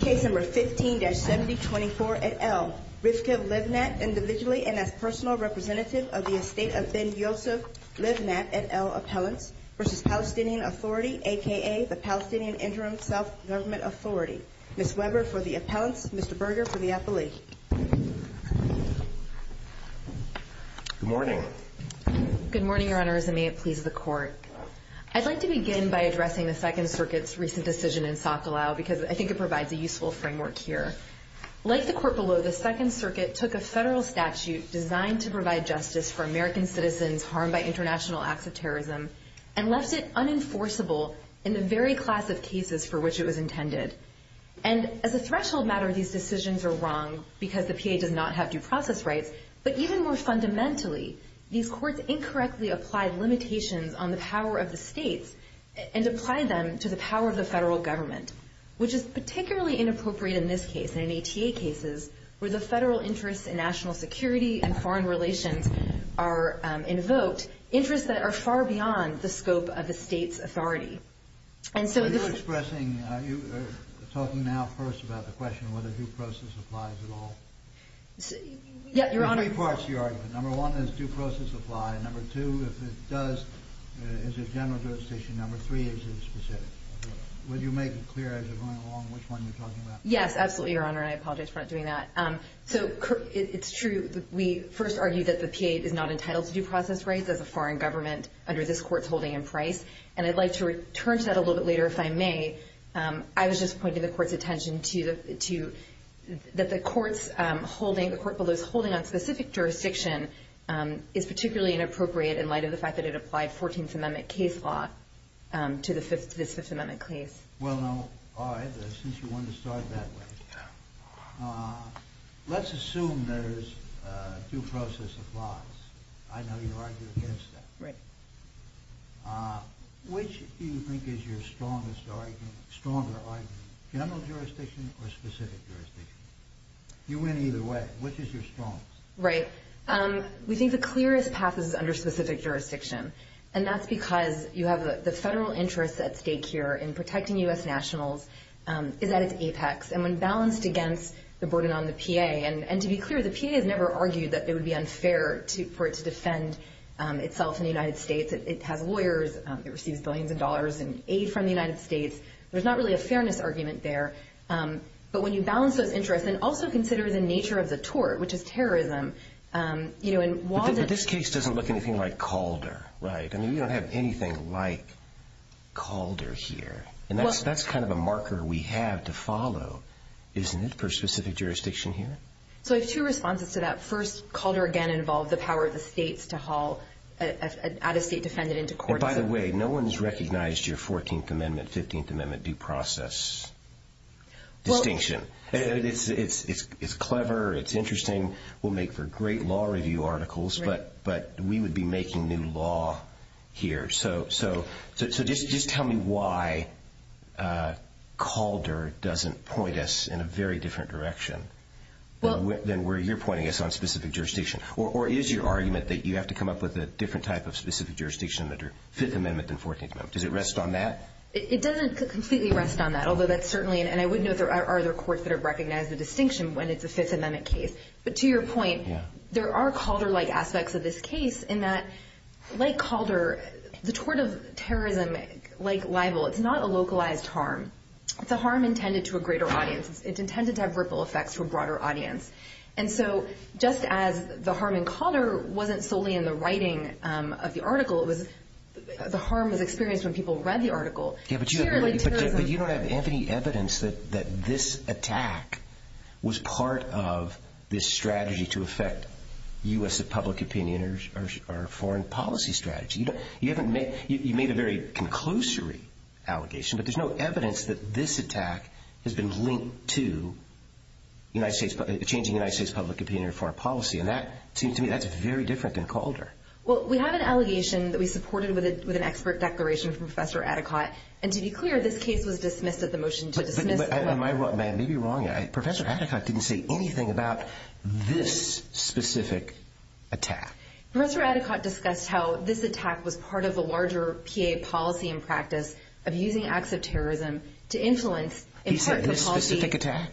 Case No. 15-7024 et al., Rivka Livnat, individually and as personal representative of the estate of Ben Yosef Livnat et al. appellants, v. Palestinian Authority, aka the Palestinian Interim Self-Government Authority. Ms. Weber for the appellants, Mr. Berger for the appellee. Good morning. Good morning, Your Honors, and may it please the Court. I'd like to begin by addressing the Second Circuit's recent decision in Sokolow because I think it provides a useful framework here. Like the Court below, the Second Circuit took a federal statute designed to provide justice for American citizens harmed by international acts of terrorism and left it unenforceable in the very class of cases for which it was intended. And as a threshold matter, these decisions are wrong because the PA does not have due process rights, but even more fundamentally, these courts incorrectly apply limitations on the power of the states and apply them to the power of the federal government, which is particularly inappropriate in this case and in ATA cases where the federal interests in national security and foreign relations are invoked, interests that are far beyond the scope of the state's authority. Are you expressing, are you talking now first about the question of whether due process applies at all? Your Honor, of course you are. Number one, does due process apply? Number two, if it does, is it general jurisdiction? Number three, is it specific? Will you make it clear as you're going along which one you're talking about? Yes, absolutely, Your Honor, and I apologize for not doing that. So it's true that we first argue that the PA is not entitled to due process rights as a foreign government under this Court's holding in price, and I'd like to return to that a little bit later if I may. I was just pointing the Court's attention to that the Court's holding, the Court below's holding on specific jurisdiction is particularly inappropriate in light of the fact that it applied 14th Amendment case law to this Fifth Amendment case. Well, now, all right, since you want to start that way, let's assume there's due process applies. I know you argue against that. Right. Which do you think is your strongest argument, stronger argument, general jurisdiction or specific jurisdiction? You win either way. Which is your strongest? Right. We think the clearest path is under specific jurisdiction, and that's because you have the federal interest at stake here in protecting U.S. nationals is at its apex, and when balanced against the burden on the PA, and to be clear, the PA has never argued that it would be unfair for it to defend itself in the United States. It has lawyers. It receives billions of dollars in aid from the United States. There's not really a fairness argument there, but when you balance those interests and also consider the nature of the tort, which is terrorism, you know, and while the- But this case doesn't look anything like Calder, right? I mean, we don't have anything like Calder here, and that's kind of a marker we have to follow, isn't it, per specific jurisdiction here? So I have two responses to that. First, Calder again involved the power of the states to haul an out-of-state defendant into court. And by the way, no one's recognized your 14th Amendment, 15th Amendment due process distinction. It's clever. It's interesting. We'll make for great law review articles, but we would be making new law here. So just tell me why Calder doesn't point us in a very different direction than where you're pointing us on specific jurisdiction. Or is your argument that you have to come up with a different type of specific jurisdiction under Fifth Amendment than 14th Amendment? Does it rest on that? It doesn't completely rest on that, although that's certainly, and I would note there are other courts that have recognized the distinction when it's a Fifth Amendment case. But to your point, there are Calder-like aspects of this case in that, like Calder, the tort of terrorism, like libel, it's not a localized harm. It's a harm intended to a greater audience. It's intended to have ripple effects for a broader audience. And so just as the harm in Calder wasn't solely in the writing of the article, the harm was experienced when people read the article. But you don't have any evidence that this attack was part of this strategy to affect U.S. public opinion or foreign policy strategy. You made a very conclusory allegation, but there's no evidence that this attack has been linked to changing United States public opinion or foreign policy. And that seems to me that's very different than Calder. Well, we have an allegation that we supported with an expert declaration from Professor Atticott. And to be clear, this case was dismissed at the motion to dismiss. Am I wrong? I may be wrong. Professor Atticott didn't say anything about this specific attack. Professor Atticott discussed how this attack was part of a larger PA policy and practice of using acts of terrorism to influence important policy. He said this specific attack.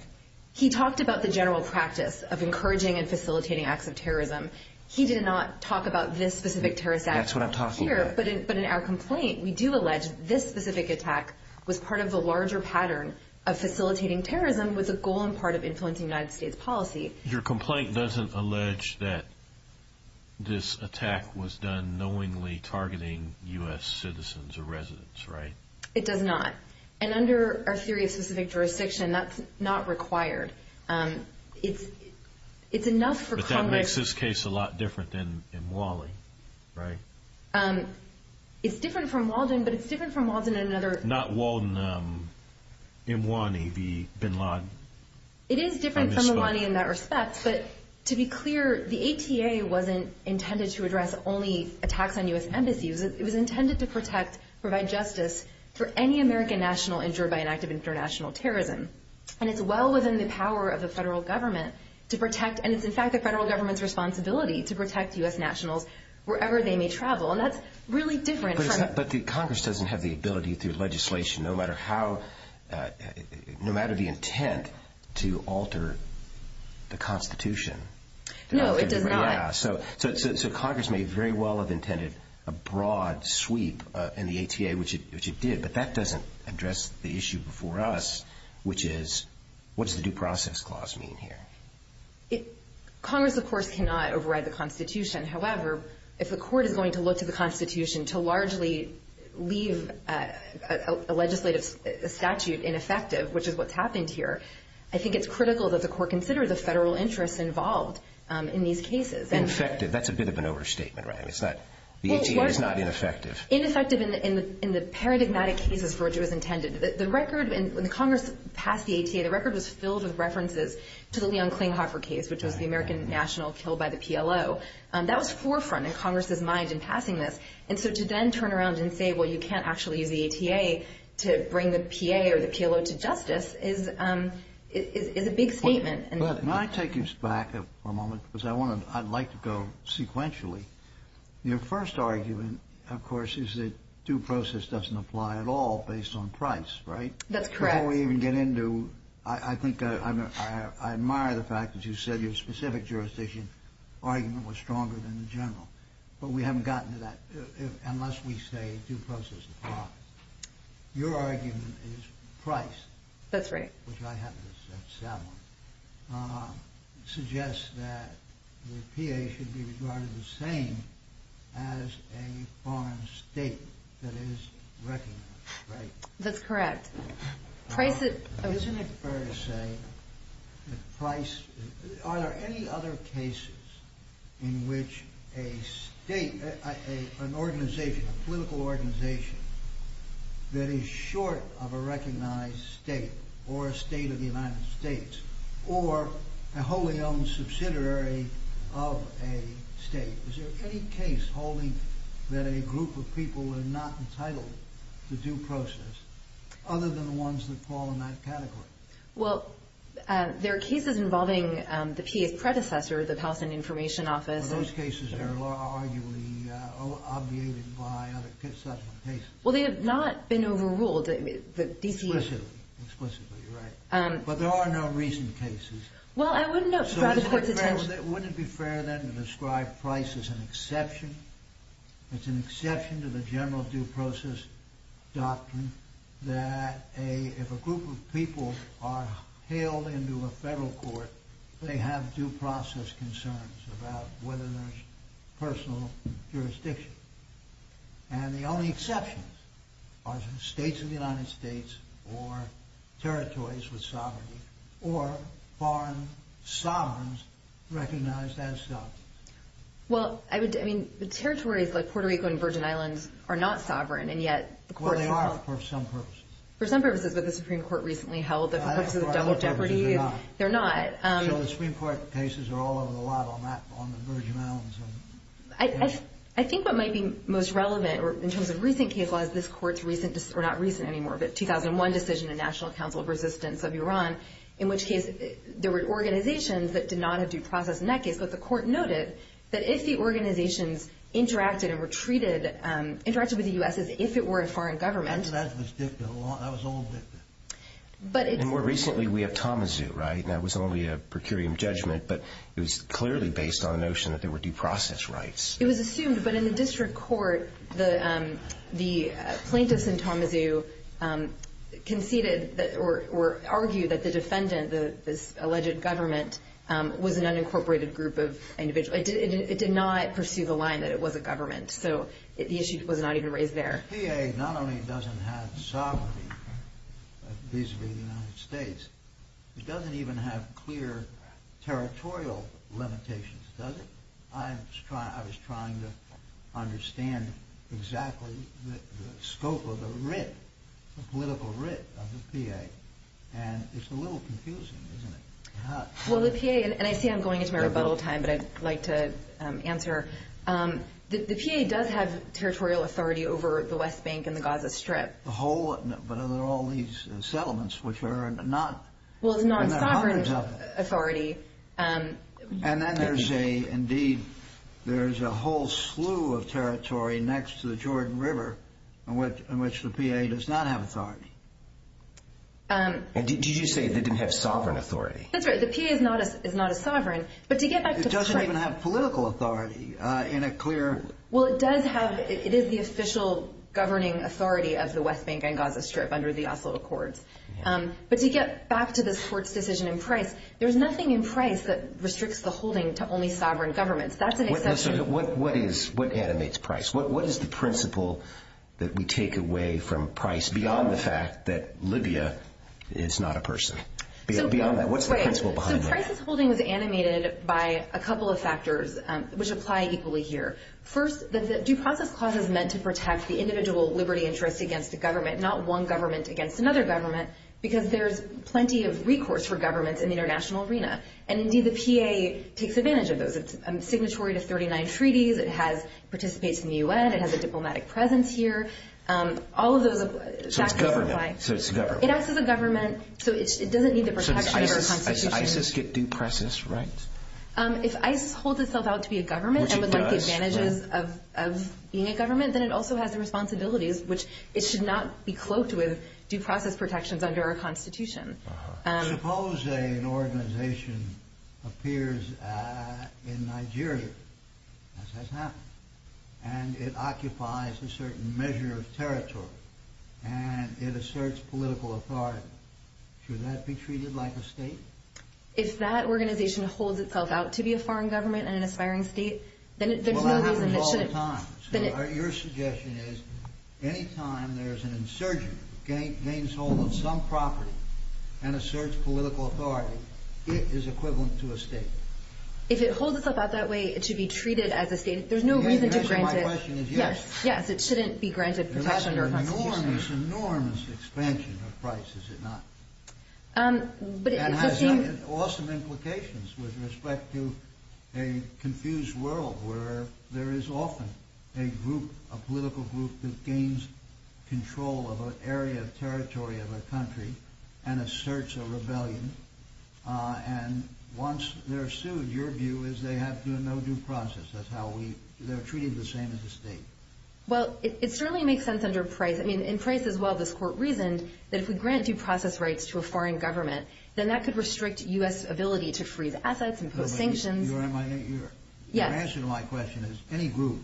He talked about the general practice of encouraging and facilitating acts of terrorism. He did not talk about this specific terrorist act here. That's what I'm talking about. But in our complaint, we do allege this specific attack was part of the larger pattern of facilitating terrorism was a goal and part of influencing United States policy. Your complaint doesn't allege that this attack was done knowingly targeting U.S. citizens or residents, right? It does not. And under our theory of specific jurisdiction, that's not required. It's enough for Congress... But that makes this case a lot different than in Wally, right? It's different from Walden, but it's different from Walden in another... Not Walden. In Wally, Bin Laden. It is different from Wally in that respect. But to be clear, the ATA wasn't intended to address only attacks on U.S. embassies. It was intended to protect, provide justice for any American national injured by an act of international terrorism. And it's well within the power of the federal government to protect... And it's, in fact, the federal government's responsibility to protect U.S. nationals wherever they may travel. And that's really different from... But Congress doesn't have the ability through legislation, no matter how... No matter the intent to alter the Constitution. No, it does not. So Congress may very well have intended a broad sweep in the ATA, which it did, but that doesn't address the issue before us, which is what does the Due Process Clause mean here? Congress, of course, cannot override the Constitution. However, if the court is going to look to the Constitution to largely leave a legislative statute ineffective, which is what's happened here, I think it's critical that the court consider the federal interests involved in these cases. Ineffective. That's a bit of an overstatement, right? It's not... The ATA is not ineffective. Ineffective in the paradigmatic cases for which it was intended. The record, when Congress passed the ATA, the record was filled with references to the Leon Klinghoffer case, which was the American national killed by the PLO. That was forefront in Congress's mind in passing this. And so to then turn around and say, well, you can't actually use the ATA to bring the PA or the PLO to justice is a big statement. Can I take you back for a moment? Because I'd like to go sequentially. Your first argument, of course, is that due process doesn't apply at all based on price, right? That's correct. Before we even get into... I think I admire the fact that you said your specific jurisdiction argument was stronger than the general. But we haven't gotten to that unless we say due process applies. Your argument is price. That's right. Which I have to accept. Suggests that the PA should be regarded the same as a foreign state that is recognized, right? That's correct. Isn't it fair to say that price... Are there any other cases in which a state, an organization, a political organization, that is short of a recognized state or a state of the United States or a wholly owned subsidiary of a state, is there any case holding that a group of people are not entitled to due process other than the ones that fall in that category? Well, there are cases involving the PA's predecessor, the Palestinian Information Office. Well, those cases are arguably obviated by other subsequent cases. Well, they have not been overruled. Explicitly. Explicitly, right. But there are no recent cases. Well, I wouldn't know... Wouldn't it be fair then to describe price as an exception? It's an exception to the general due process doctrine that if a group of people are hailed into a federal court, they have due process concerns about whether there's personal jurisdiction. And the only exceptions are states of the United States or territories with sovereignty or foreign sovereigns recognized as such. Well, I mean, the territories like Puerto Rico and Virgin Islands are not sovereign, and yet... Well, they are for some purposes. For some purposes, but the Supreme Court recently held that for purposes of double jeopardy... They're not. They're not. So the Supreme Court cases are all over the lot on that, on the Virgin Islands and... I think what might be most relevant in terms of recent case laws, this court's recent, 2001 decision in National Council of Resistance of Iran, in which case there were organizations that did not have due process in that case, but the court noted that if the organizations interacted and were treated, interacted with the U.S. as if it were a foreign government... That was old dicta. More recently, we have Tommazoo, right? That was only a per curiam judgment, but it was clearly based on the notion that there were due process rights. It was assumed, but in the district court, the plaintiffs in Tommazoo conceded or argued that the defendant, this alleged government, was an unincorporated group of individuals. It did not pursue the line that it was a government, so the issue was not even raised there. The PA not only doesn't have sovereignty vis-a-vis the United States, it doesn't even have clear territorial limitations, does it? I was trying to understand exactly the scope of the writ, the political writ of the PA, and it's a little confusing, isn't it? Well, the PA, and I see I'm going into my rebuttal time, but I'd like to answer. The PA does have territorial authority over the West Bank and the Gaza Strip. The whole, but are there all these settlements which are not... Well, it's non-sovereign authority. And then there's a whole slew of territory next to the Jordan River in which the PA does not have authority. Did you say they didn't have sovereign authority? That's right. The PA is not a sovereign, but to get back to the price... It doesn't even have political authority in a clear... Well, it does have, it is the official governing authority of the West Bank and Gaza Strip under the Oslo Accords. But to get back to this court's decision in Price, there's nothing in Price that restricts the holding to only sovereign governments. That's an exception. Listen, what animates Price? What is the principle that we take away from Price beyond the fact that Libya is not a person? Beyond that, what's the principle behind that? So Price's holding was animated by a couple of factors, which apply equally here. First, the Due Process Clause is meant to protect the individual liberty interest against a government, not one government against another government, because there's plenty of recourse for governments in the international arena. And indeed, the PA takes advantage of those. It's signatory to 39 treaties. It participates in the UN. It has a diplomatic presence here. All of those factors apply. So it's government. It acts as a government, so it doesn't need the protection of our constitution. Does ISIS get due process rights? If ISIS holds itself out to be a government... Which it does. ...and would like the advantages of being a government, then it also has the responsibilities, which it should not be cloaked with due process protections under our constitution. Suppose an organization appears in Nigeria, as has happened, and it occupies a certain measure of territory, and it asserts political authority. Should that be treated like a state? If that organization holds itself out to be a foreign government and an aspiring state, then there's no reason... Well, that happens all the time. Your suggestion is, any time there's an insurgent who gains hold of some property and asserts political authority, it is equivalent to a state. If it holds itself out that way, it should be treated as a state. There's no reason to grant it... The answer to my question is yes. Yes, it shouldn't be granted protection under our constitution. There's an enormous, enormous expansion of price, is it not? But it does seem... That has awesome implications with respect to a confused world where there is often a group, a political group, that gains control of an area of territory of a country and asserts a rebellion. And once they're sued, your view is they have no due process. That's how we... They're treated the same as a state. Well, it certainly makes sense under price. I mean, in price as well, this court reasoned that if we grant due process rights to a foreign government, then that could restrict U.S. ability to freeze assets and impose sanctions. Your answer to my question is, any group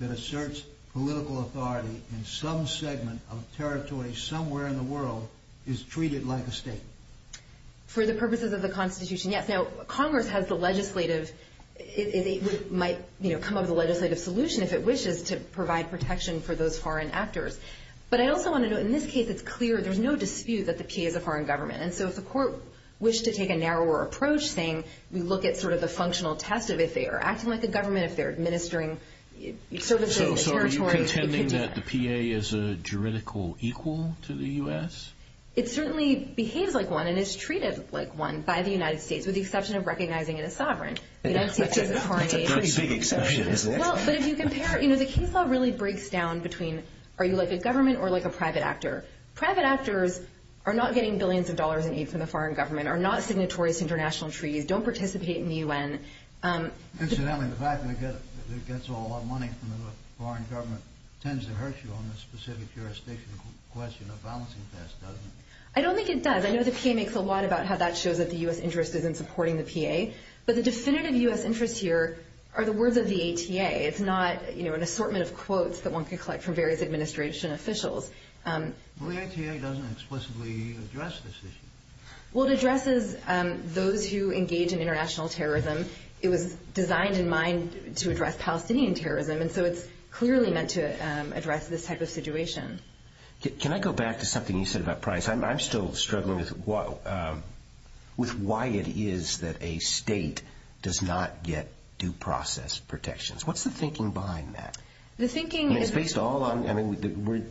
that asserts political authority in some segment of territory somewhere in the world is treated like a state. For the purposes of the constitution, yes. Now, Congress has the legislative... It might come up with a legislative solution if it wishes to provide protection for those foreign actors. But I also want to note, in this case, it's clear, there's no dispute that the P.A. is a foreign government. And so if the court wished to take a narrower approach, saying we look at sort of the functional test of if they are acting like a government, if they're administering services in the territory... So are you contending that the P.A. is a juridical equal to the U.S.? It certainly behaves like one and is treated like one by the United States, with the exception of recognizing it as sovereign. That's a pretty big exception, isn't it? Well, but if you compare... You know, the case law really breaks down between are you like a government or like a private actor? Private actors are not getting billions of dollars in aid from the foreign government, are not signatories to international treaties, don't participate in the U.N. Incidentally, the fact that it gets a lot of money from the foreign government tends to hurt you on the specific jurisdiction question of balancing tests, doesn't it? I don't think it does. I know the P.A. makes a lot about how that shows that the U.S. interest is in supporting the P.A., but the definitive U.S. interest here are the words of the A.T.A. It's not, you know, an assortment of quotes that one can collect from various administration officials. Well, the A.T.A. doesn't explicitly address this issue. Well, it addresses those who engage in international terrorism. It was designed in mind to address Palestinian terrorism, and so it's clearly meant to address this type of situation. Can I go back to something you said about price? I'm still struggling with why it is that a state does not get due process protections. What's the thinking behind that? The thinking is... And it's based all on... I mean,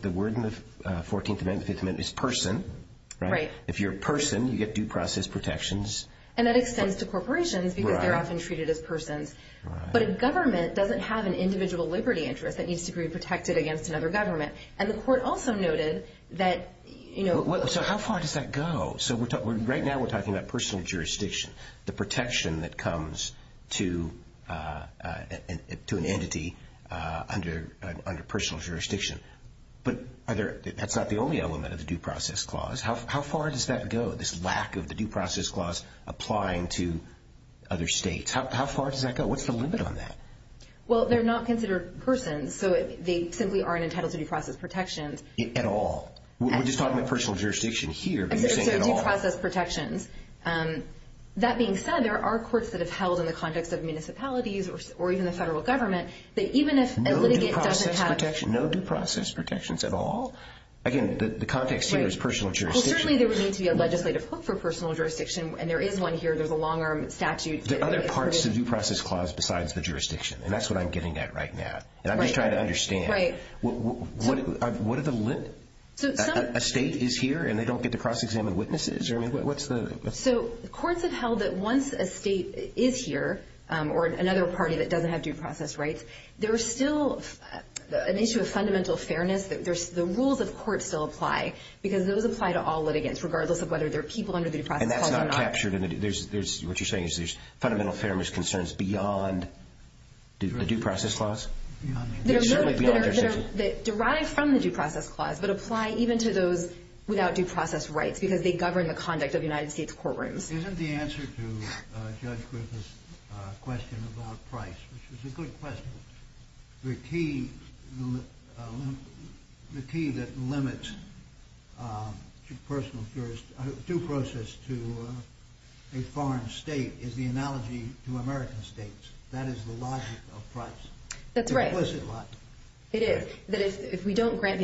the word in the 14th Amendment, the 15th Amendment, is person. Right. If you're a person, you get due process protections. And that extends to corporations because they're often treated as persons. But a government doesn't have an individual liberty interest that needs to be protected against another government. And the court also noted that, you know... So how far does that go? Right now we're talking about personal jurisdiction, the protection that comes to an entity under personal jurisdiction. But that's not the only element of the due process clause. How far does that go, this lack of the due process clause applying to other states? How far does that go? What's the limit on that? Well, they're not considered persons, so they simply aren't entitled to due process protections. At all? We're just talking about personal jurisdiction here, but you're saying at all? So due process protections. That being said, there are courts that have held, in the context of municipalities or even the federal government, that even if a litigant doesn't have... No due process protections at all? Again, the context here is personal jurisdiction. Well, certainly there would need to be a legislative hook for personal jurisdiction, and there is one here. There's a long-arm statute. There are other parts to the due process clause besides the jurisdiction, and that's what I'm getting at right now. And I'm just trying to understand. Right. What are the limits? A state is here and they don't get to cross-examine witnesses? So courts have held that once a state is here, or another party that doesn't have due process rights, there is still an issue of fundamental fairness. The rules of court still apply because those apply to all litigants, regardless of whether they're people under the due process clause or not. And that's not captured in the due process clause? What you're saying is there's fundamental fairness concerns beyond the due process clause? Certainly beyond jurisdiction. Derived from the due process clause, but apply even to those without due process rights because they govern the conduct of United States courtrooms. Isn't the answer to Judge Griffith's question about price, which was a good question, the key that limits due process to a foreign state is the analogy to American states. That is the logic of price. That's right. It's an implicit logic. It is. That if we don't grant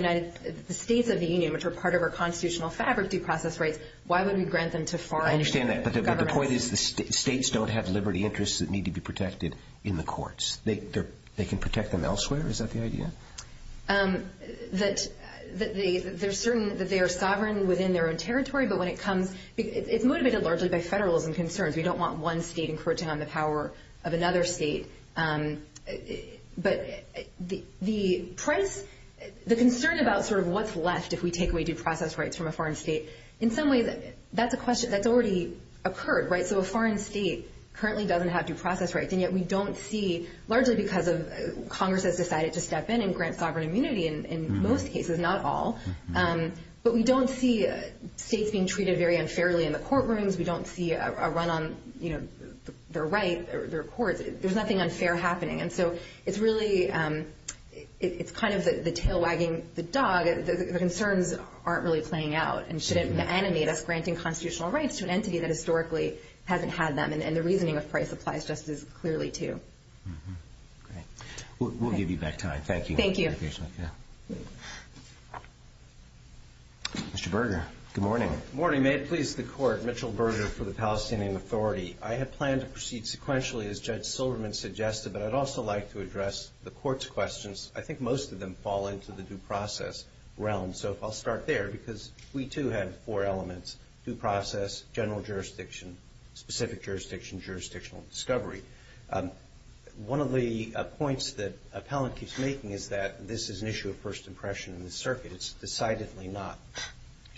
the states of the Union, which are part of our constitutional fabric, due process rights, why would we grant them to foreign states? I understand that, but the point is the states don't have liberty interests that need to be protected in the courts. They can protect them elsewhere. Is that the idea? That they are sovereign within their own territory, but it's motivated largely by federalism concerns. We don't want one state encroaching on the power of another state. But the concern about what's left if we take away due process rights from a foreign state, in some ways that's a question that's already occurred, right? So a foreign state currently doesn't have due process rights, and yet we don't see, largely because Congress has decided to step in and grant sovereign immunity in most cases, not all, but we don't see states being treated very unfairly in the courtrooms. We don't see a run on their rights, their courts. There's nothing unfair happening. And so it's really kind of the tail wagging the dog. The concerns aren't really playing out and shouldn't animate us granting constitutional rights to an entity that historically hasn't had them. And the reasoning of price applies just as clearly, too. Great. We'll give you back time. Thank you. Thank you. Mr. Berger, good morning. Good morning. May it please the Court, Mitchell Berger for the Palestinian Authority. I have planned to proceed sequentially, as Judge Silverman suggested, but I'd also like to address the Court's questions. I think most of them fall into the due process realm. So I'll start there because we too have four elements, due process, general jurisdiction, specific jurisdiction, jurisdictional discovery. One of the points that Appellant keeps making is that this is an issue of first impression in the circuit. It's decidedly not.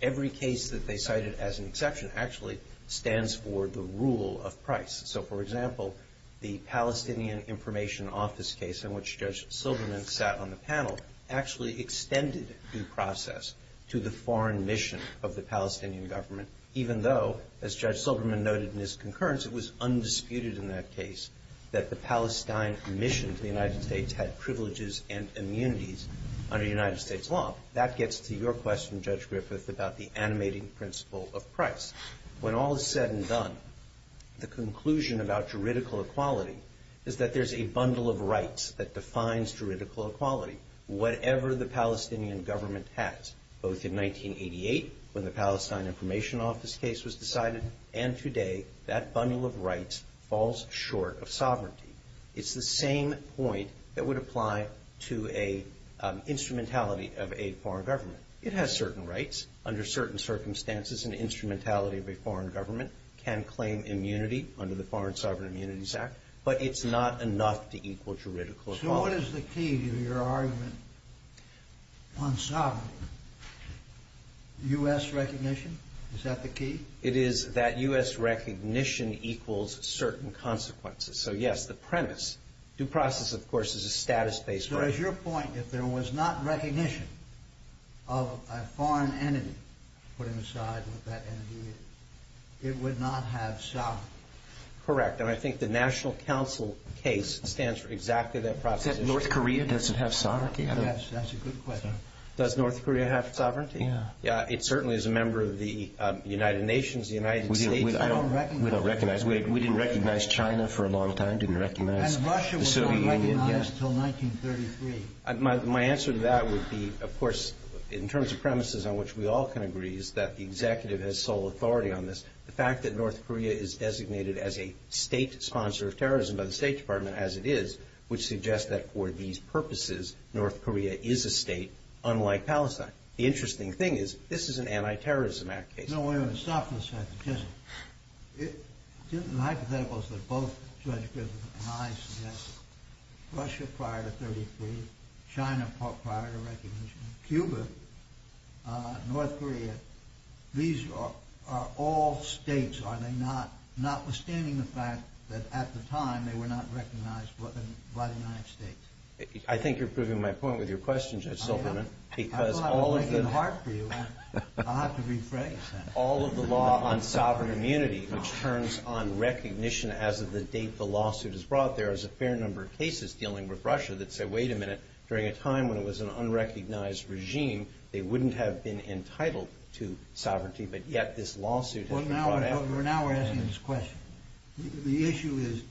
Every case that they cited as an exception actually stands for the rule of price. So, for example, the Palestinian Information Office case in which Judge Silverman sat on the panel actually extended due process to the foreign mission of the Palestinian government, even though, as Judge Silverman noted in his concurrence, it was undisputed in that case that the Palestine mission to the United States had privileges and immunities under United States law. That gets to your question, Judge Griffith, about the animating principle of price. When all is said and done, the conclusion about juridical equality is that there's a bundle of rights that defines juridical equality, whatever the Palestinian government has, both in 1988 when the Palestine Information Office case was decided and today that bundle of rights falls short of sovereignty. It's the same point that would apply to an instrumentality of a foreign government. It has certain rights under certain circumstances, an instrumentality of a foreign government, can claim immunity under the Foreign Sovereign Immunities Act, but it's not enough to equal juridical equality. So what is the key to your argument on sovereignty? U.S. recognition? Is that the key? It is that U.S. recognition equals certain consequences. So, yes, the premise. Due process, of course, is a status-based right. So as your point, if there was not recognition of a foreign entity, putting aside what that entity is, it would not have sovereignty. Correct, and I think the National Council case stands for exactly that process. Is that North Korea? Does it have sovereignty? Yes, that's a good question. Does North Korea have sovereignty? Yeah. It certainly is a member of the United Nations, the United States. We don't recognize. We don't recognize. We didn't recognize China for a long time, didn't recognize the Soviet Union. And Russia was not recognized until 1933. My answer to that would be, of course, in terms of premises on which we all can agree, is that the executive has sole authority on this. The fact that North Korea is designated as a state sponsor of terrorism by the State Department, as it is, would suggest that for these purposes, North Korea is a state unlike Palestine. The interesting thing is, this is an anti-terrorism act case. No, wait a minute. Stop for a second. Just the hypotheticals that both Judge Griffin and I suggest, Russia prior to 1933, China prior to recognition, Cuba, North Korea, these are all states, are they not? Notwithstanding the fact that at the time they were not recognized by the United States. I think you're proving my point with your question, Judge Silverman. I am. I thought I was making it hard for you. I'll have to rephrase that. All of the law on sovereign immunity, which turns on recognition as of the date the lawsuit is brought, there is a fair number of cases dealing with Russia that say, wait a minute, during a time when it was an unrecognized regime, they wouldn't have been entitled to sovereignty, but yet this lawsuit has been brought after. Well, now we're asking this question. The issue is,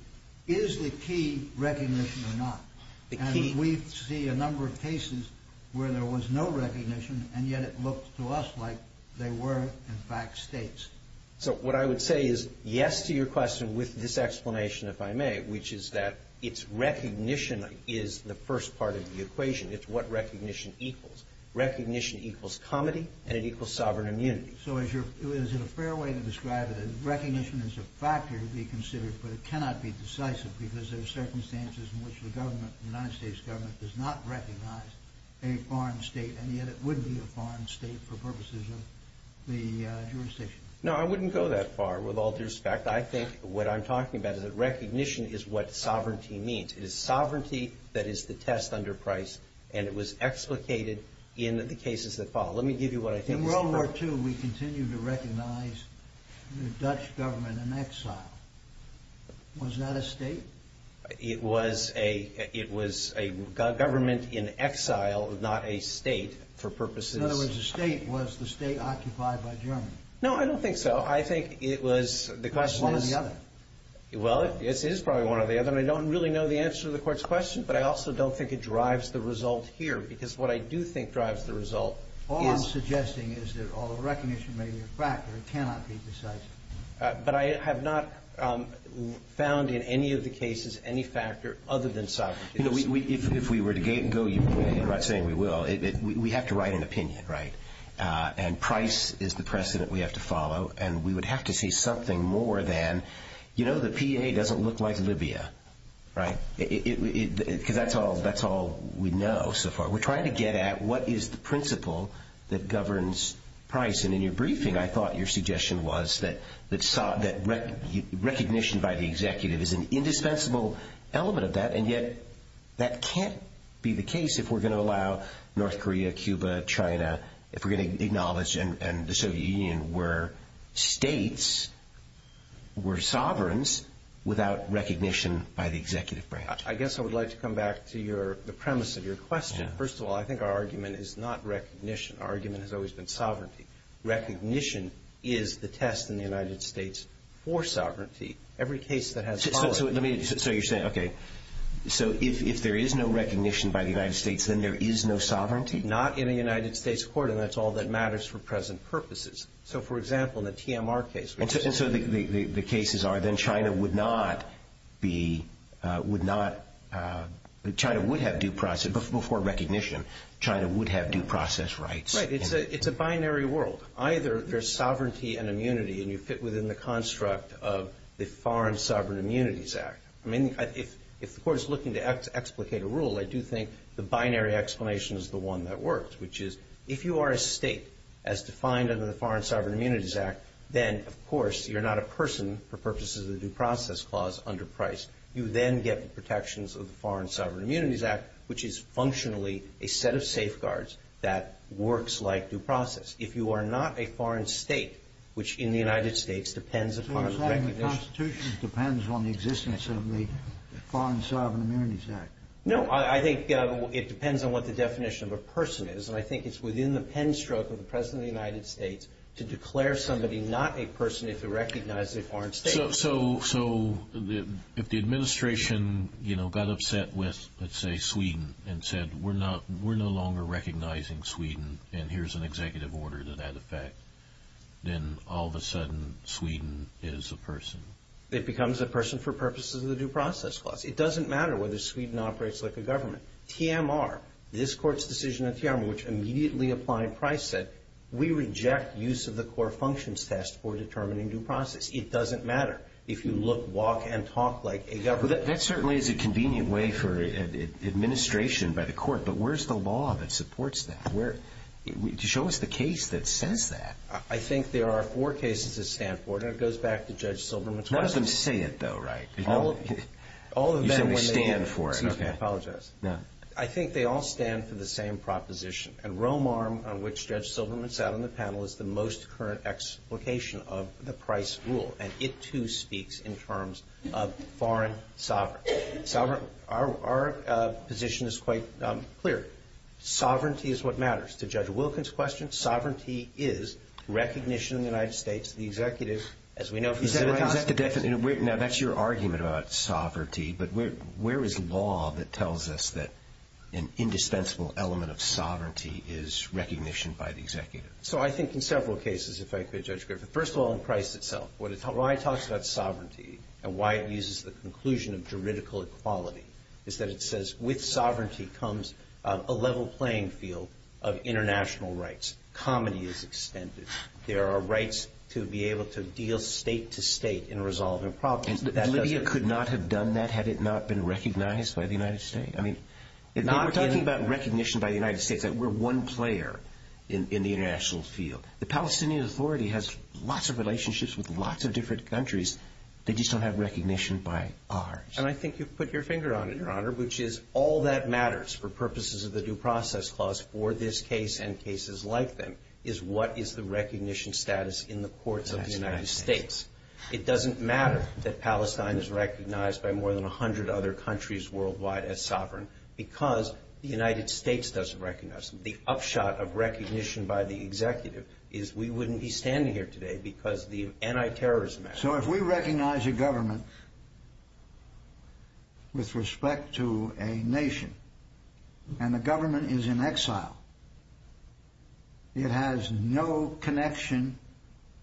is the key recognition or not? And we see a number of cases where there was no recognition, and yet it looked to us like they were, in fact, states. So what I would say is yes to your question with this explanation, if I may, which is that it's recognition is the first part of the equation. It's what recognition equals. Recognition equals comity, and it equals sovereign immunity. So is it a fair way to describe it? Recognition is a factor to be considered, but it cannot be decisive because there are circumstances in which the government, the United States government, does not recognize a foreign state, and yet it would be a foreign state for purposes of the jurisdiction. No, I wouldn't go that far, with all due respect. I think what I'm talking about is that recognition is what sovereignty means. It is sovereignty that is the test under price, and it was explicated in the cases that follow. Let me give you what I think is correct. In World War II, we continued to recognize the Dutch government in exile. Was that a state? It was a government in exile, not a state, for purposes. In other words, the state was the state occupied by Germany. No, I don't think so. I think it was. It was one or the other. Well, it is probably one or the other, and I don't really know the answer to the Court's question, but I also don't think it drives the result here because what I do think drives the result is. All I'm suggesting is that recognition may be a factor. It cannot be decisive. But I have not found in any of the cases any factor other than sovereignty. You know, if we were to go, you're not saying we will. We have to write an opinion, right? And price is the precedent we have to follow, and we would have to see something more than, you know, the PA doesn't look like Libya, right? Because that's all we know so far. We're trying to get at what is the principle that governs price, and in your briefing I thought your suggestion was that recognition by the executive is an indispensable element of that, and yet that can't be the case if we're going to allow North Korea, Cuba, China, if we're going to acknowledge and the Soviet Union were states, were sovereigns, without recognition by the executive branch. I guess I would like to come back to the premise of your question. First of all, I think our argument is not recognition. Our argument has always been sovereignty. Recognition is the test in the United States for sovereignty. Every case that has followed. So you're saying, okay, so if there is no recognition by the United States, then there is no sovereignty? Not in a United States court, and that's all that matters for present purposes. So, for example, in the TMR case. And so the cases are then China would not be, would not, China would have due process, before recognition, China would have due process rights. Right. It's a binary world. Either there's sovereignty and immunity and you fit within the construct of the Foreign Sovereign Immunities Act. I mean, if the court is looking to explicate a rule, I do think the binary explanation is the one that works, which is if you are a state as defined under the Foreign Sovereign Immunities Act, then, of course, you're not a person for purposes of the due process clause under Price. You then get the protections of the Foreign Sovereign Immunities Act, which is functionally a set of safeguards that works like due process. If you are not a foreign state, which in the United States depends upon recognition. So you're saying the Constitution depends on the existence of the Foreign Sovereign Immunities Act? No. I think it depends on what the definition of a person is, and I think it's within the pen stroke of the President of the United States to declare somebody not a person if they're recognized as a foreign state. So if the administration, you know, got upset with, let's say, Sweden and said, we're no longer recognizing Sweden and here's an executive order to that effect, then all of a sudden Sweden is a person. It becomes a person for purposes of the due process clause. It doesn't matter whether Sweden operates like a government. TMR, this Court's decision on TMR, which immediately applied Price said, we reject use of the core functions test for determining due process. It doesn't matter if you look, walk, and talk like a government. That certainly is a convenient way for administration by the Court, but where's the law that supports that? Show us the case that says that. I think there are four cases that stand for it, and it goes back to Judge Silberman's wife. None of them say it, though, right? You said they stand for it. Excuse me, I apologize. I think they all stand for the same proposition, and Romarm, on which Judge Silberman sat on the panel, is the most current explication of the Price rule, and it, too, speaks in terms of foreign sovereignty. Our position is quite clear. Sovereignty is what matters. To Judge Wilkins' question, sovereignty is recognition in the United States that the executive, as we know from the United States. Now, that's your argument about sovereignty, but where is law that tells us that an indispensable element of sovereignty is recognition by the executive? So I think in several cases, if I could, Judge Griffith. First of all, in Price itself, why it talks about sovereignty and why it uses the conclusion of juridical equality is that it says with sovereignty comes a level playing field of international rights. Comedy is extended. There are rights to be able to deal state to state in resolving problems. Libya could not have done that had it not been recognized by the United States. I mean, we're talking about recognition by the United States. We're one player in the international field. The Palestinian Authority has lots of relationships with lots of different countries. They just don't have recognition by ours. And I think you've put your finger on it, Your Honor, which is all that matters for purposes of the Due Process Clause for this case and cases like them is what is the recognition status in the courts of the United States. It doesn't matter that Palestine is recognized by more than 100 other countries worldwide as sovereign because the United States doesn't recognize them. The upshot of recognition by the executive is we wouldn't be standing here today because the anti-terrorism act. So if we recognize a government with respect to a nation and the government is in exile, it has no connection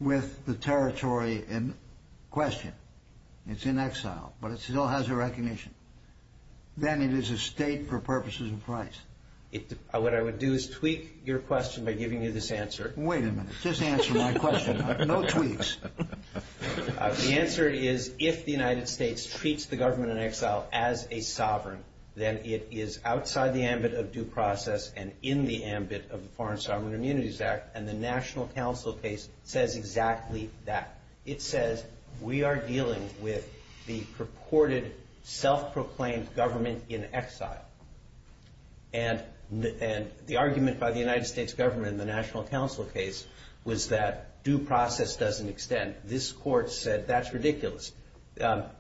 with the territory in question. It's in exile, but it still has a recognition. Then it is a state for purposes of price. What I would do is tweak your question by giving you this answer. Wait a minute. Just answer my question. No tweaks. The answer is if the United States treats the government in exile as a sovereign, then it is outside the ambit of due process and in the ambit of the Foreign Sovereign Immunities Act, and the National Council case says exactly that. It says we are dealing with the purported self-proclaimed government in exile. And the argument by the United States government in the National Council case was that due process doesn't extend. This court said that's ridiculous.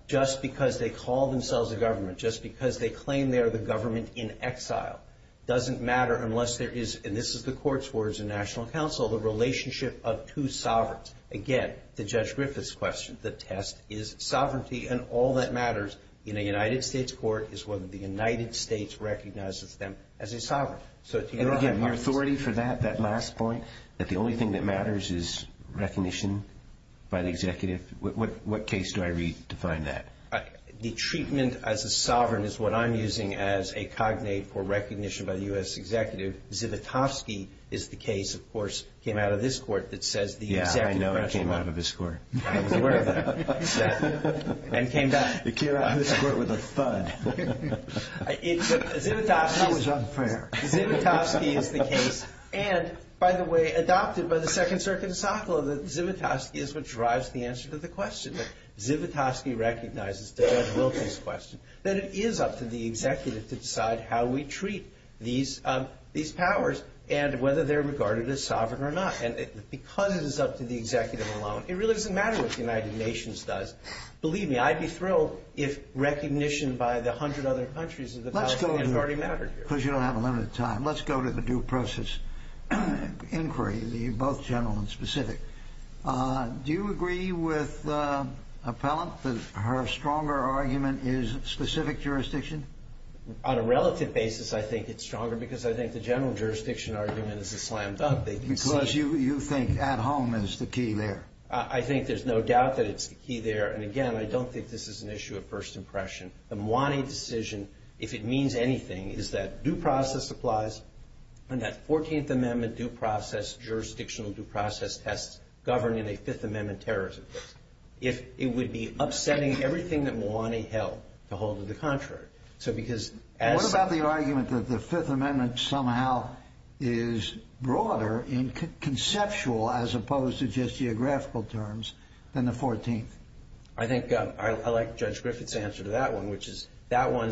Just because they call themselves a government, just because they claim they are the government in exile, doesn't matter unless there is, and this is the court's words in National Council, the relationship of two sovereigns. Again, to Judge Griffith's question, the test is sovereignty, and all that matters in a United States court is whether the United States recognizes them as a sovereign. And again, your authority for that, that last point, that the only thing that matters is recognition by the executive, what case do I read to find that? The treatment as a sovereign is what I'm using as a cognate for recognition by the U.S. executive. Zivotofsky is the case, of course, came out of this court that says the executive threshold. Yeah, I know it came out of this court. I was aware of that. And came back. It came out of this court with a thud. That was unfair. Zivotofsky is the case. And, by the way, adopted by the Second Circuit of Sokolov that Zivotofsky is what drives the answer to the question. Zivotofsky recognizes, to Judge Wilkie's question, that it is up to the executive to decide how we treat these powers and whether they're regarded as sovereign or not. And because it is up to the executive alone, it really doesn't matter what the United Nations does. Believe me, I'd be thrilled if recognition by the hundred other countries of the United States already mattered here. Because you don't have a limit of time. Let's go to the due process inquiry, both general and specific. Do you agree with Appellant that her stronger argument is specific jurisdiction? On a relative basis, I think it's stronger because I think the general jurisdiction argument is a slam dunk. Because you think at home is the key there. I think there's no doubt that it's the key there. And, again, I don't think this is an issue of first impression. The Mwane decision, if it means anything, is that due process applies and that 14th Amendment due process, jurisdictional due process tests, govern in a Fifth Amendment terrorism case. It would be upsetting everything that Mwane held to hold to the contrary. What about the argument that the Fifth Amendment somehow is broader in conceptual as opposed to just geographical terms than the 14th? I think I like Judge Griffith's answer to that one, which is that one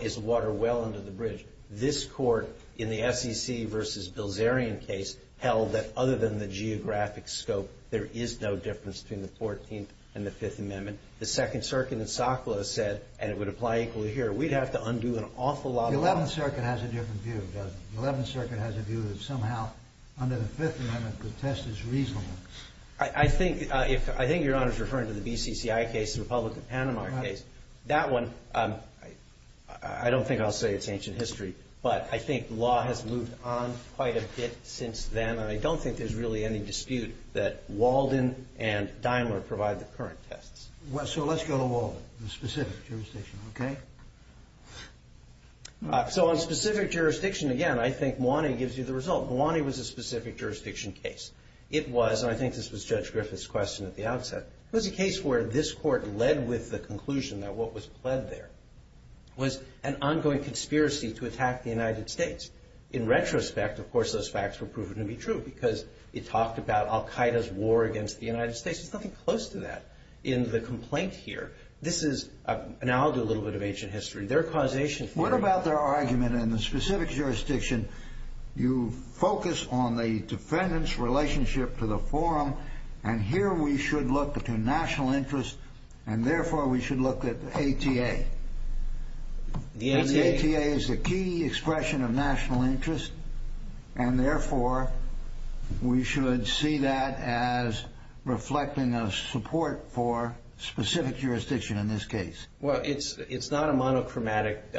is water well under the bridge. This Court, in the SEC versus Bilzerian case, held that other than the geographic scope, there is no difference between the 14th and the Fifth Amendment. The Second Circuit in Sokla said, and it would apply equally here, we'd have to undo an awful lot of law. The Eleventh Circuit has a different view, Judge. The Eleventh Circuit has a view that somehow under the Fifth Amendment the test is reasonable. I think Your Honor is referring to the BCCI case, the Republican Panama case. That one, I don't think I'll say it's ancient history, but I think law has moved on quite a bit since then, and I don't think there's really any dispute that Walden and Daimler provide the current tests. So let's go to Walden, the specific jurisdiction, okay? So on specific jurisdiction, again, I think Mwane gives you the result. Mwane was a specific jurisdiction case. It was, and I think this was Judge Griffith's question at the outset, it was a case where this Court led with the conclusion that what was pled there was an ongoing conspiracy to attack the United States. In retrospect, of course, those facts were proven to be true because it talked about Al-Qaeda's war against the United States. There's nothing close to that in the complaint here. This is an analogy, a little bit of ancient history. Their causation for it. What about their argument in the specific jurisdiction, you focus on the defendant's relationship to the forum, and here we should look to national interest, and therefore we should look at ATA. The ATA is a key expression of national interest, and therefore we should see that as reflecting a support for specific jurisdiction in this case. Well, it's not a monochromatic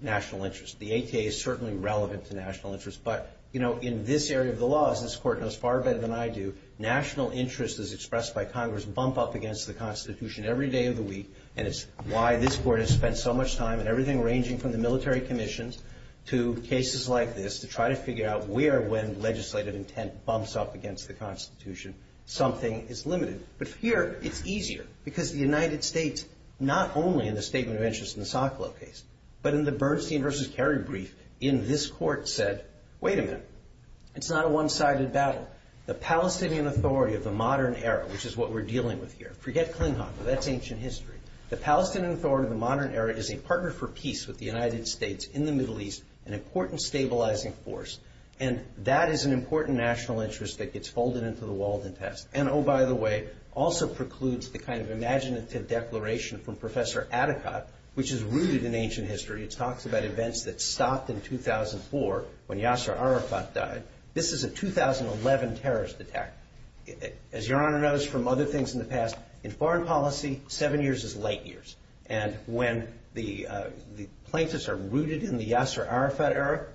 national interest. The ATA is certainly relevant to national interest, but in this area of the law, as this Court knows far better than I do, national interest as expressed by Congress bump up against the Constitution every day of the week, and it's why this Court has spent so much time in everything ranging from the military commissions to cases like this to try to figure out where when legislative intent bumps up against the Constitution something is limited. But here it's easier because the United States, not only in the statement of interest in the Socolow case, but in the Bernstein v. Kerry brief, in this Court said, wait a minute, it's not a one-sided battle. The Palestinian Authority of the modern era, which is what we're dealing with here, forget Klinghoffer, that's ancient history, the Palestinian Authority of the modern era is a partner for peace with the United States in the Middle East, an important stabilizing force, and that is an important national interest that gets folded into the Walden test, and oh, by the way, also precludes the kind of imaginative declaration from Professor Atikot, which is rooted in ancient history. It talks about events that stopped in 2004 when Yasser Arafat died. This is a 2011 terrorist attack. As Your Honor knows from other things in the past, in foreign policy, seven years is light years, and when the plaintiffs are rooted in the Yasser Arafat era,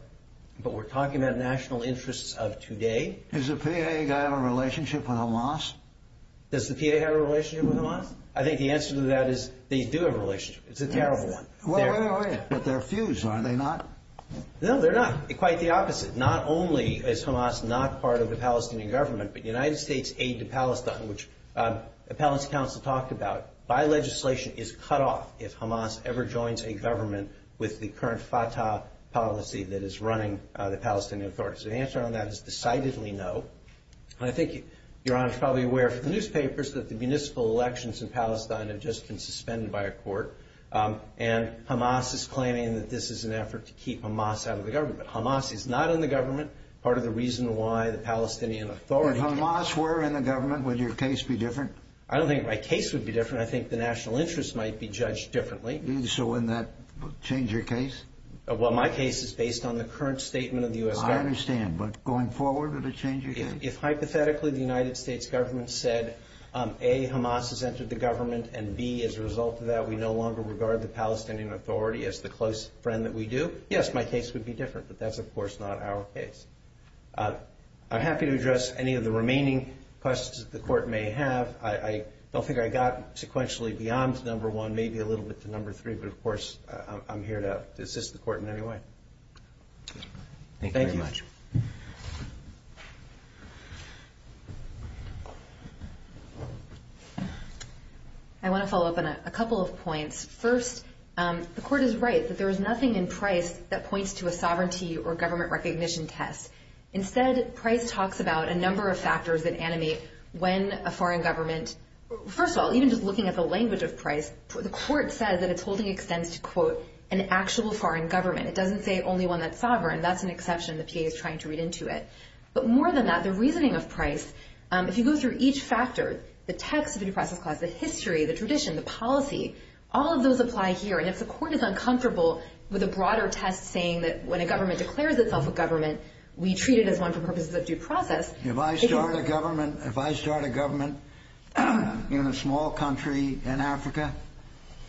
but we're talking about national interests of today. Does the PA guy have a relationship with Hamas? Does the PA have a relationship with Hamas? I think the answer to that is they do have a relationship. It's a terrible one. But they're fused, are they not? No, they're not. Quite the opposite. Not only is Hamas not part of the Palestinian government, but United States aid to Palestine, which the Palestinian Council talked about, by legislation is cut off if Hamas ever joins a government with the current Fatah policy that is running the Palestinian Authority. So the answer on that is decidedly no, and I think Your Honor is probably aware from the newspapers that the municipal elections in Palestine have just been suspended by a court, and Hamas is claiming that this is an effort to keep Hamas out of the government. Hamas is not in the government, part of the reason why the Palestinian Authority If Hamas were in the government, would your case be different? I don't think my case would be different. I think the national interest might be judged differently. So wouldn't that change your case? Well, my case is based on the current statement of the U.S. government. I understand, but going forward, would it change your case? If hypothetically the United States government said, A, Hamas has entered the government, and B, as a result of that, we no longer regard the Palestinian Authority as the close friend that we do, yes, my case would be different, but that's, of course, not our case. I'm happy to address any of the remaining questions that the Court may have. I don't think I got sequentially beyond number one, maybe a little bit to number three, but, of course, I'm here to assist the Court in any way. Thank you very much. I want to follow up on a couple of points. First, the Court is right that there is nothing in Price that points to a sovereignty or government recognition test. Instead, Price talks about a number of factors that animate when a foreign government First of all, even just looking at the language of Price, the Court says that it's holding extents to, quote, an actual foreign government. It doesn't say only one that's sovereign. That's an exception the PA is trying to read into it. But more than that, the reasoning of Price, if you go through each factor, the text of the due process clause, the history, the tradition, the policy, all of those apply here, and if the Court is uncomfortable with a broader test saying that when a government declares itself a government, we treat it as one for purposes of due process, If I start a government in a small country in Africa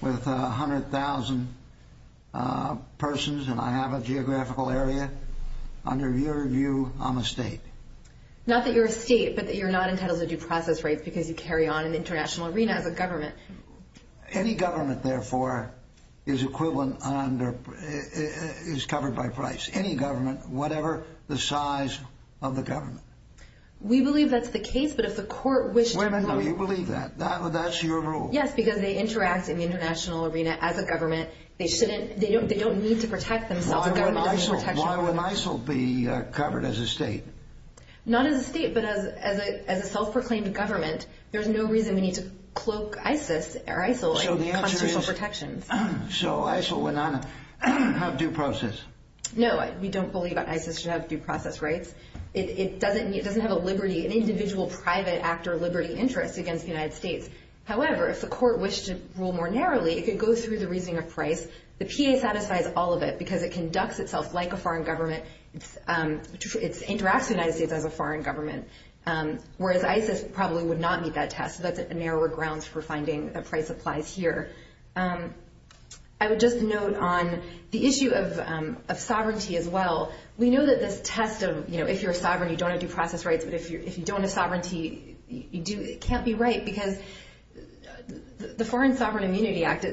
with 100,000 persons and I have a geographical area, under your view, I'm a state. Not that you're a state, but that you're not entitled to due process rights because you carry on an international arena as a government. Any government, therefore, is covered by Price. Any government, whatever the size of the government. We believe that's the case, but if the Court wished to rule... You believe that? That's your rule? Yes, because they interact in the international arena as a government. They don't need to protect themselves. Why wouldn't ISIL be covered as a state? Not as a state, but as a self-proclaimed government. There's no reason we need to cloak ISIL as constitutional protections. So ISIL would not have due process? No, we don't believe that ISIL should have due process rights. It doesn't have an individual private act or liberty interest against the United States. However, if the Court wished to rule more narrowly, it could go through the reasoning of Price. The PA satisfies all of it because it conducts itself like a foreign government. It interacts with the United States as a foreign government. Whereas ISIL probably would not meet that test. That's a narrower ground for finding that Price applies here. I would just note on the issue of sovereignty as well, we know that this test of if you're sovereign, you don't have due process rights, but if you don't have sovereignty, it can't be right because the Foreign Sovereign Immunity Act,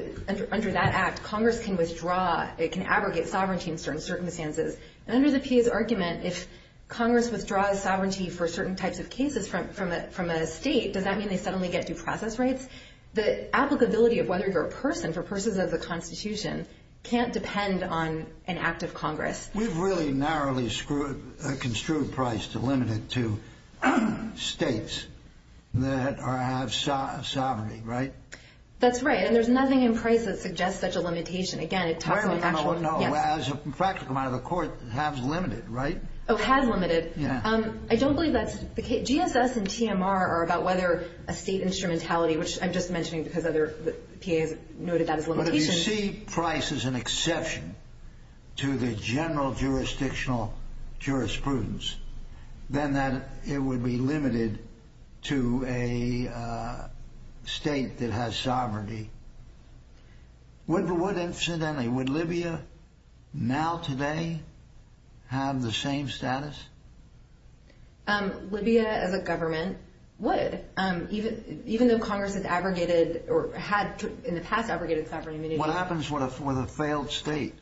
under that act, Congress can withdraw, it can abrogate sovereignty in certain circumstances. And under the PA's argument, if Congress withdraws sovereignty for certain types of cases from a state, does that mean they suddenly get due process rights? The applicability of whether you're a person, for persons of the Constitution, can't depend on an act of Congress. We've really narrowly construed Price to limit it to states that have sovereignty, right? That's right, and there's nothing in Price that suggests such a limitation. Again, it talks about actual... As a practical matter, the Court has limited, right? Oh, has limited. Yeah. I don't believe that's the case. If GSS and TMR are about whether a state instrumentality, which I'm just mentioning because other PA's noted that as limitations... But if you see Price as an exception to the general jurisdictional jurisprudence, then it would be limited to a state that has sovereignty. Would, incidentally, would Libya now, today, have the same status? Libya, as a government, would, even though Congress has abrogated or had in the past abrogated sovereign immunity. What happens with a failed state?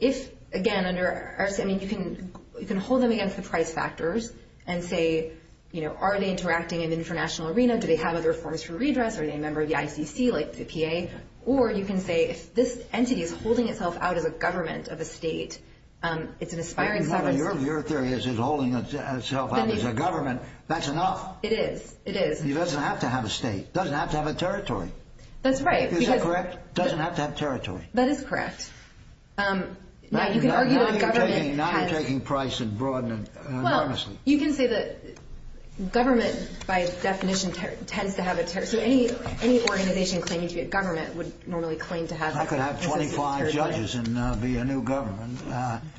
If, again, you can hold them against the Price factors and say, are they interacting in the international arena? Do they have other forms for redress? Are they a member of the ICC, like the PA? Or you can say, if this entity is holding itself out as a government of a state, it's an aspiring sovereign state. Your theory is it's holding itself out as a government. That's enough. It is. It is. It doesn't have to have a state. It doesn't have to have a territory. That's right. Is that correct? It doesn't have to have territory. That is correct. Now, you can argue that a government has... Now you're taking Price and broadening enormously. Well, you can say that government, by definition, tends to have a territory. So any organization claiming to be a government would normally claim to have... I could have 25 judges and be a new government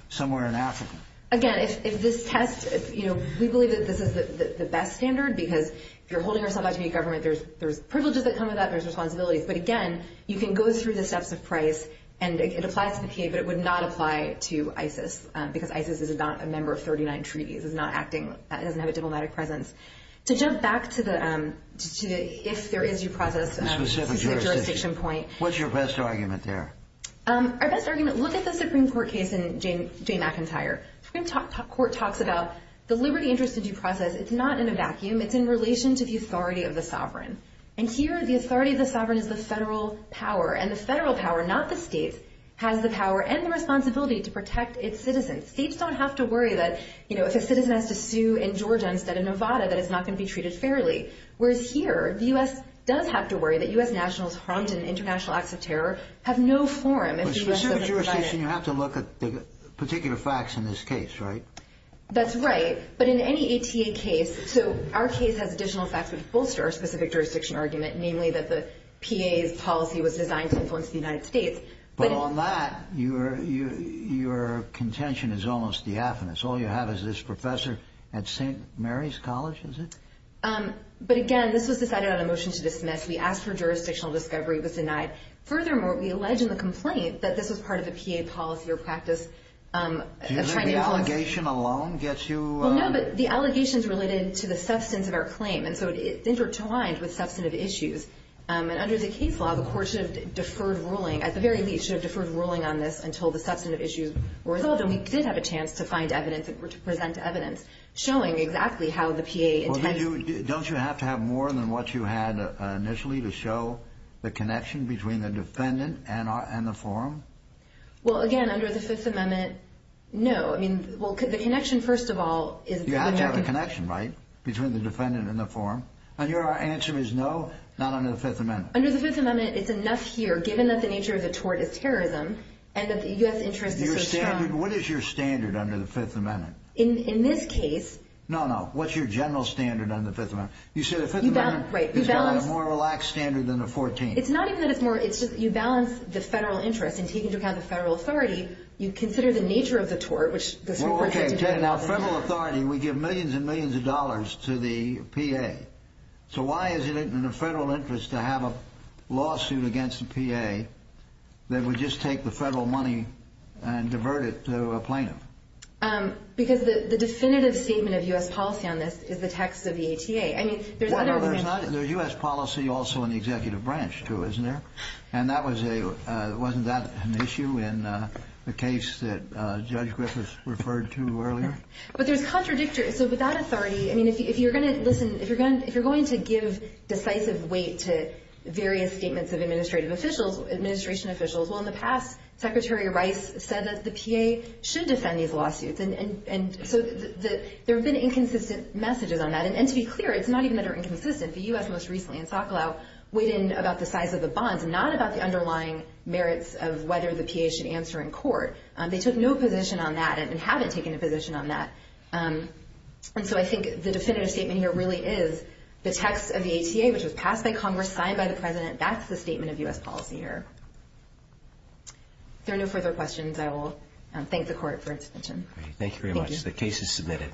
somewhere in Africa. Again, if this test, you know, we believe that this is the best standard because if you're holding yourself out to be a government, there's privileges that come with that and there's responsibilities. But, again, you can go through the steps of Price, and it applies to the PA, but it would not apply to ISIS because ISIS is not a member of 39 treaties. It's not acting. It doesn't have a diplomatic presence. To jump back to the if there is your process... The specific jurisdiction. The specific jurisdiction point. What's your best argument there? Our best argument... Look at the Supreme Court case in Jane McIntyre. The Supreme Court talks about the liberty, interest, and due process. It's not in a vacuum. It's in relation to the authority of the sovereign. And here, the authority of the sovereign is the federal power, and the federal power, not the state, has the power and the responsibility to protect its citizens. States don't have to worry that, you know, if a citizen has to sue in Georgia instead of Nevada, that it's not going to be treated fairly. Whereas here, the U.S. does have to worry that U.S. nationals harmed in international acts of terror have no forum if the U.S. doesn't provide it. In a specific jurisdiction, you have to look at the particular facts in this case, right? That's right, but in any ATA case... So our case has additional facts that bolster our specific jurisdiction argument, namely that the PA's policy was designed to influence the United States. But on that, your contention is almost diaphanous. All you have is this professor at St. Mary's College, is it? But again, this was decided on a motion to dismiss. We asked for jurisdictional discovery. It was denied. Furthermore, we allege in the complaint that this was part of a PA policy or practice... Do you think the allegation alone gets you... Well, no, but the allegations related to the substance of our claim, and so it's intertwined with substantive issues. And under the case law, the court should have deferred ruling. At the very least, should have deferred ruling on this until the substantive issues were resolved, and we did have a chance to find evidence or to present evidence showing exactly how the PA intended... Well, don't you have to have more than what you had initially to show the connection between the defendant and the forum? Well, again, under the Fifth Amendment, no. I mean, well, the connection, first of all, is... You have to have a connection, right, between the defendant and the forum? And your answer is no, not under the Fifth Amendment? Under the Fifth Amendment, it's enough here, given that the nature of the tort is terrorism, and that the U.S. interest is so strong... What is your standard under the Fifth Amendment? In this case... No, no, what's your general standard under the Fifth Amendment? You said the Fifth Amendment has got a more relaxed standard than the 14th. It's not even that it's more... It's just you balance the federal interest and taking into account the federal authority, you consider the nature of the tort, which... Well, okay, now federal authority, we give millions and millions of dollars to the PA. So why is it in the federal interest to have a lawsuit against the PA that would just take the federal money and divert it to a plaintiff? Because the definitive statement of U.S. policy on this is the text of the ATA. I mean, there's other... Well, there's not... There's U.S. policy also in the executive branch, too, isn't there? And that was a... Wasn't that an issue in the case that Judge Griffiths referred to earlier? But there's contradictory... So with that authority, I mean, if you're going to... Listen, if you're going to give decisive weight to various statements of administrative officials, administration officials... Well, in the past, Secretary Rice said that the PA should defend these lawsuits. And so there have been inconsistent messages on that. And to be clear, it's not even that they're inconsistent. The U.S. most recently in Sokolow weighed in about the size of the bonds, not about the underlying merits of whether the PA should answer in court. They took no position on that and haven't taken a position on that. And so I think the definitive statement here really is the text of the ATA, which was passed by Congress, signed by the president. That's the statement of U.S. policy here. If there are no further questions, I will thank the Court for its attention. Thank you very much. The case is submitted.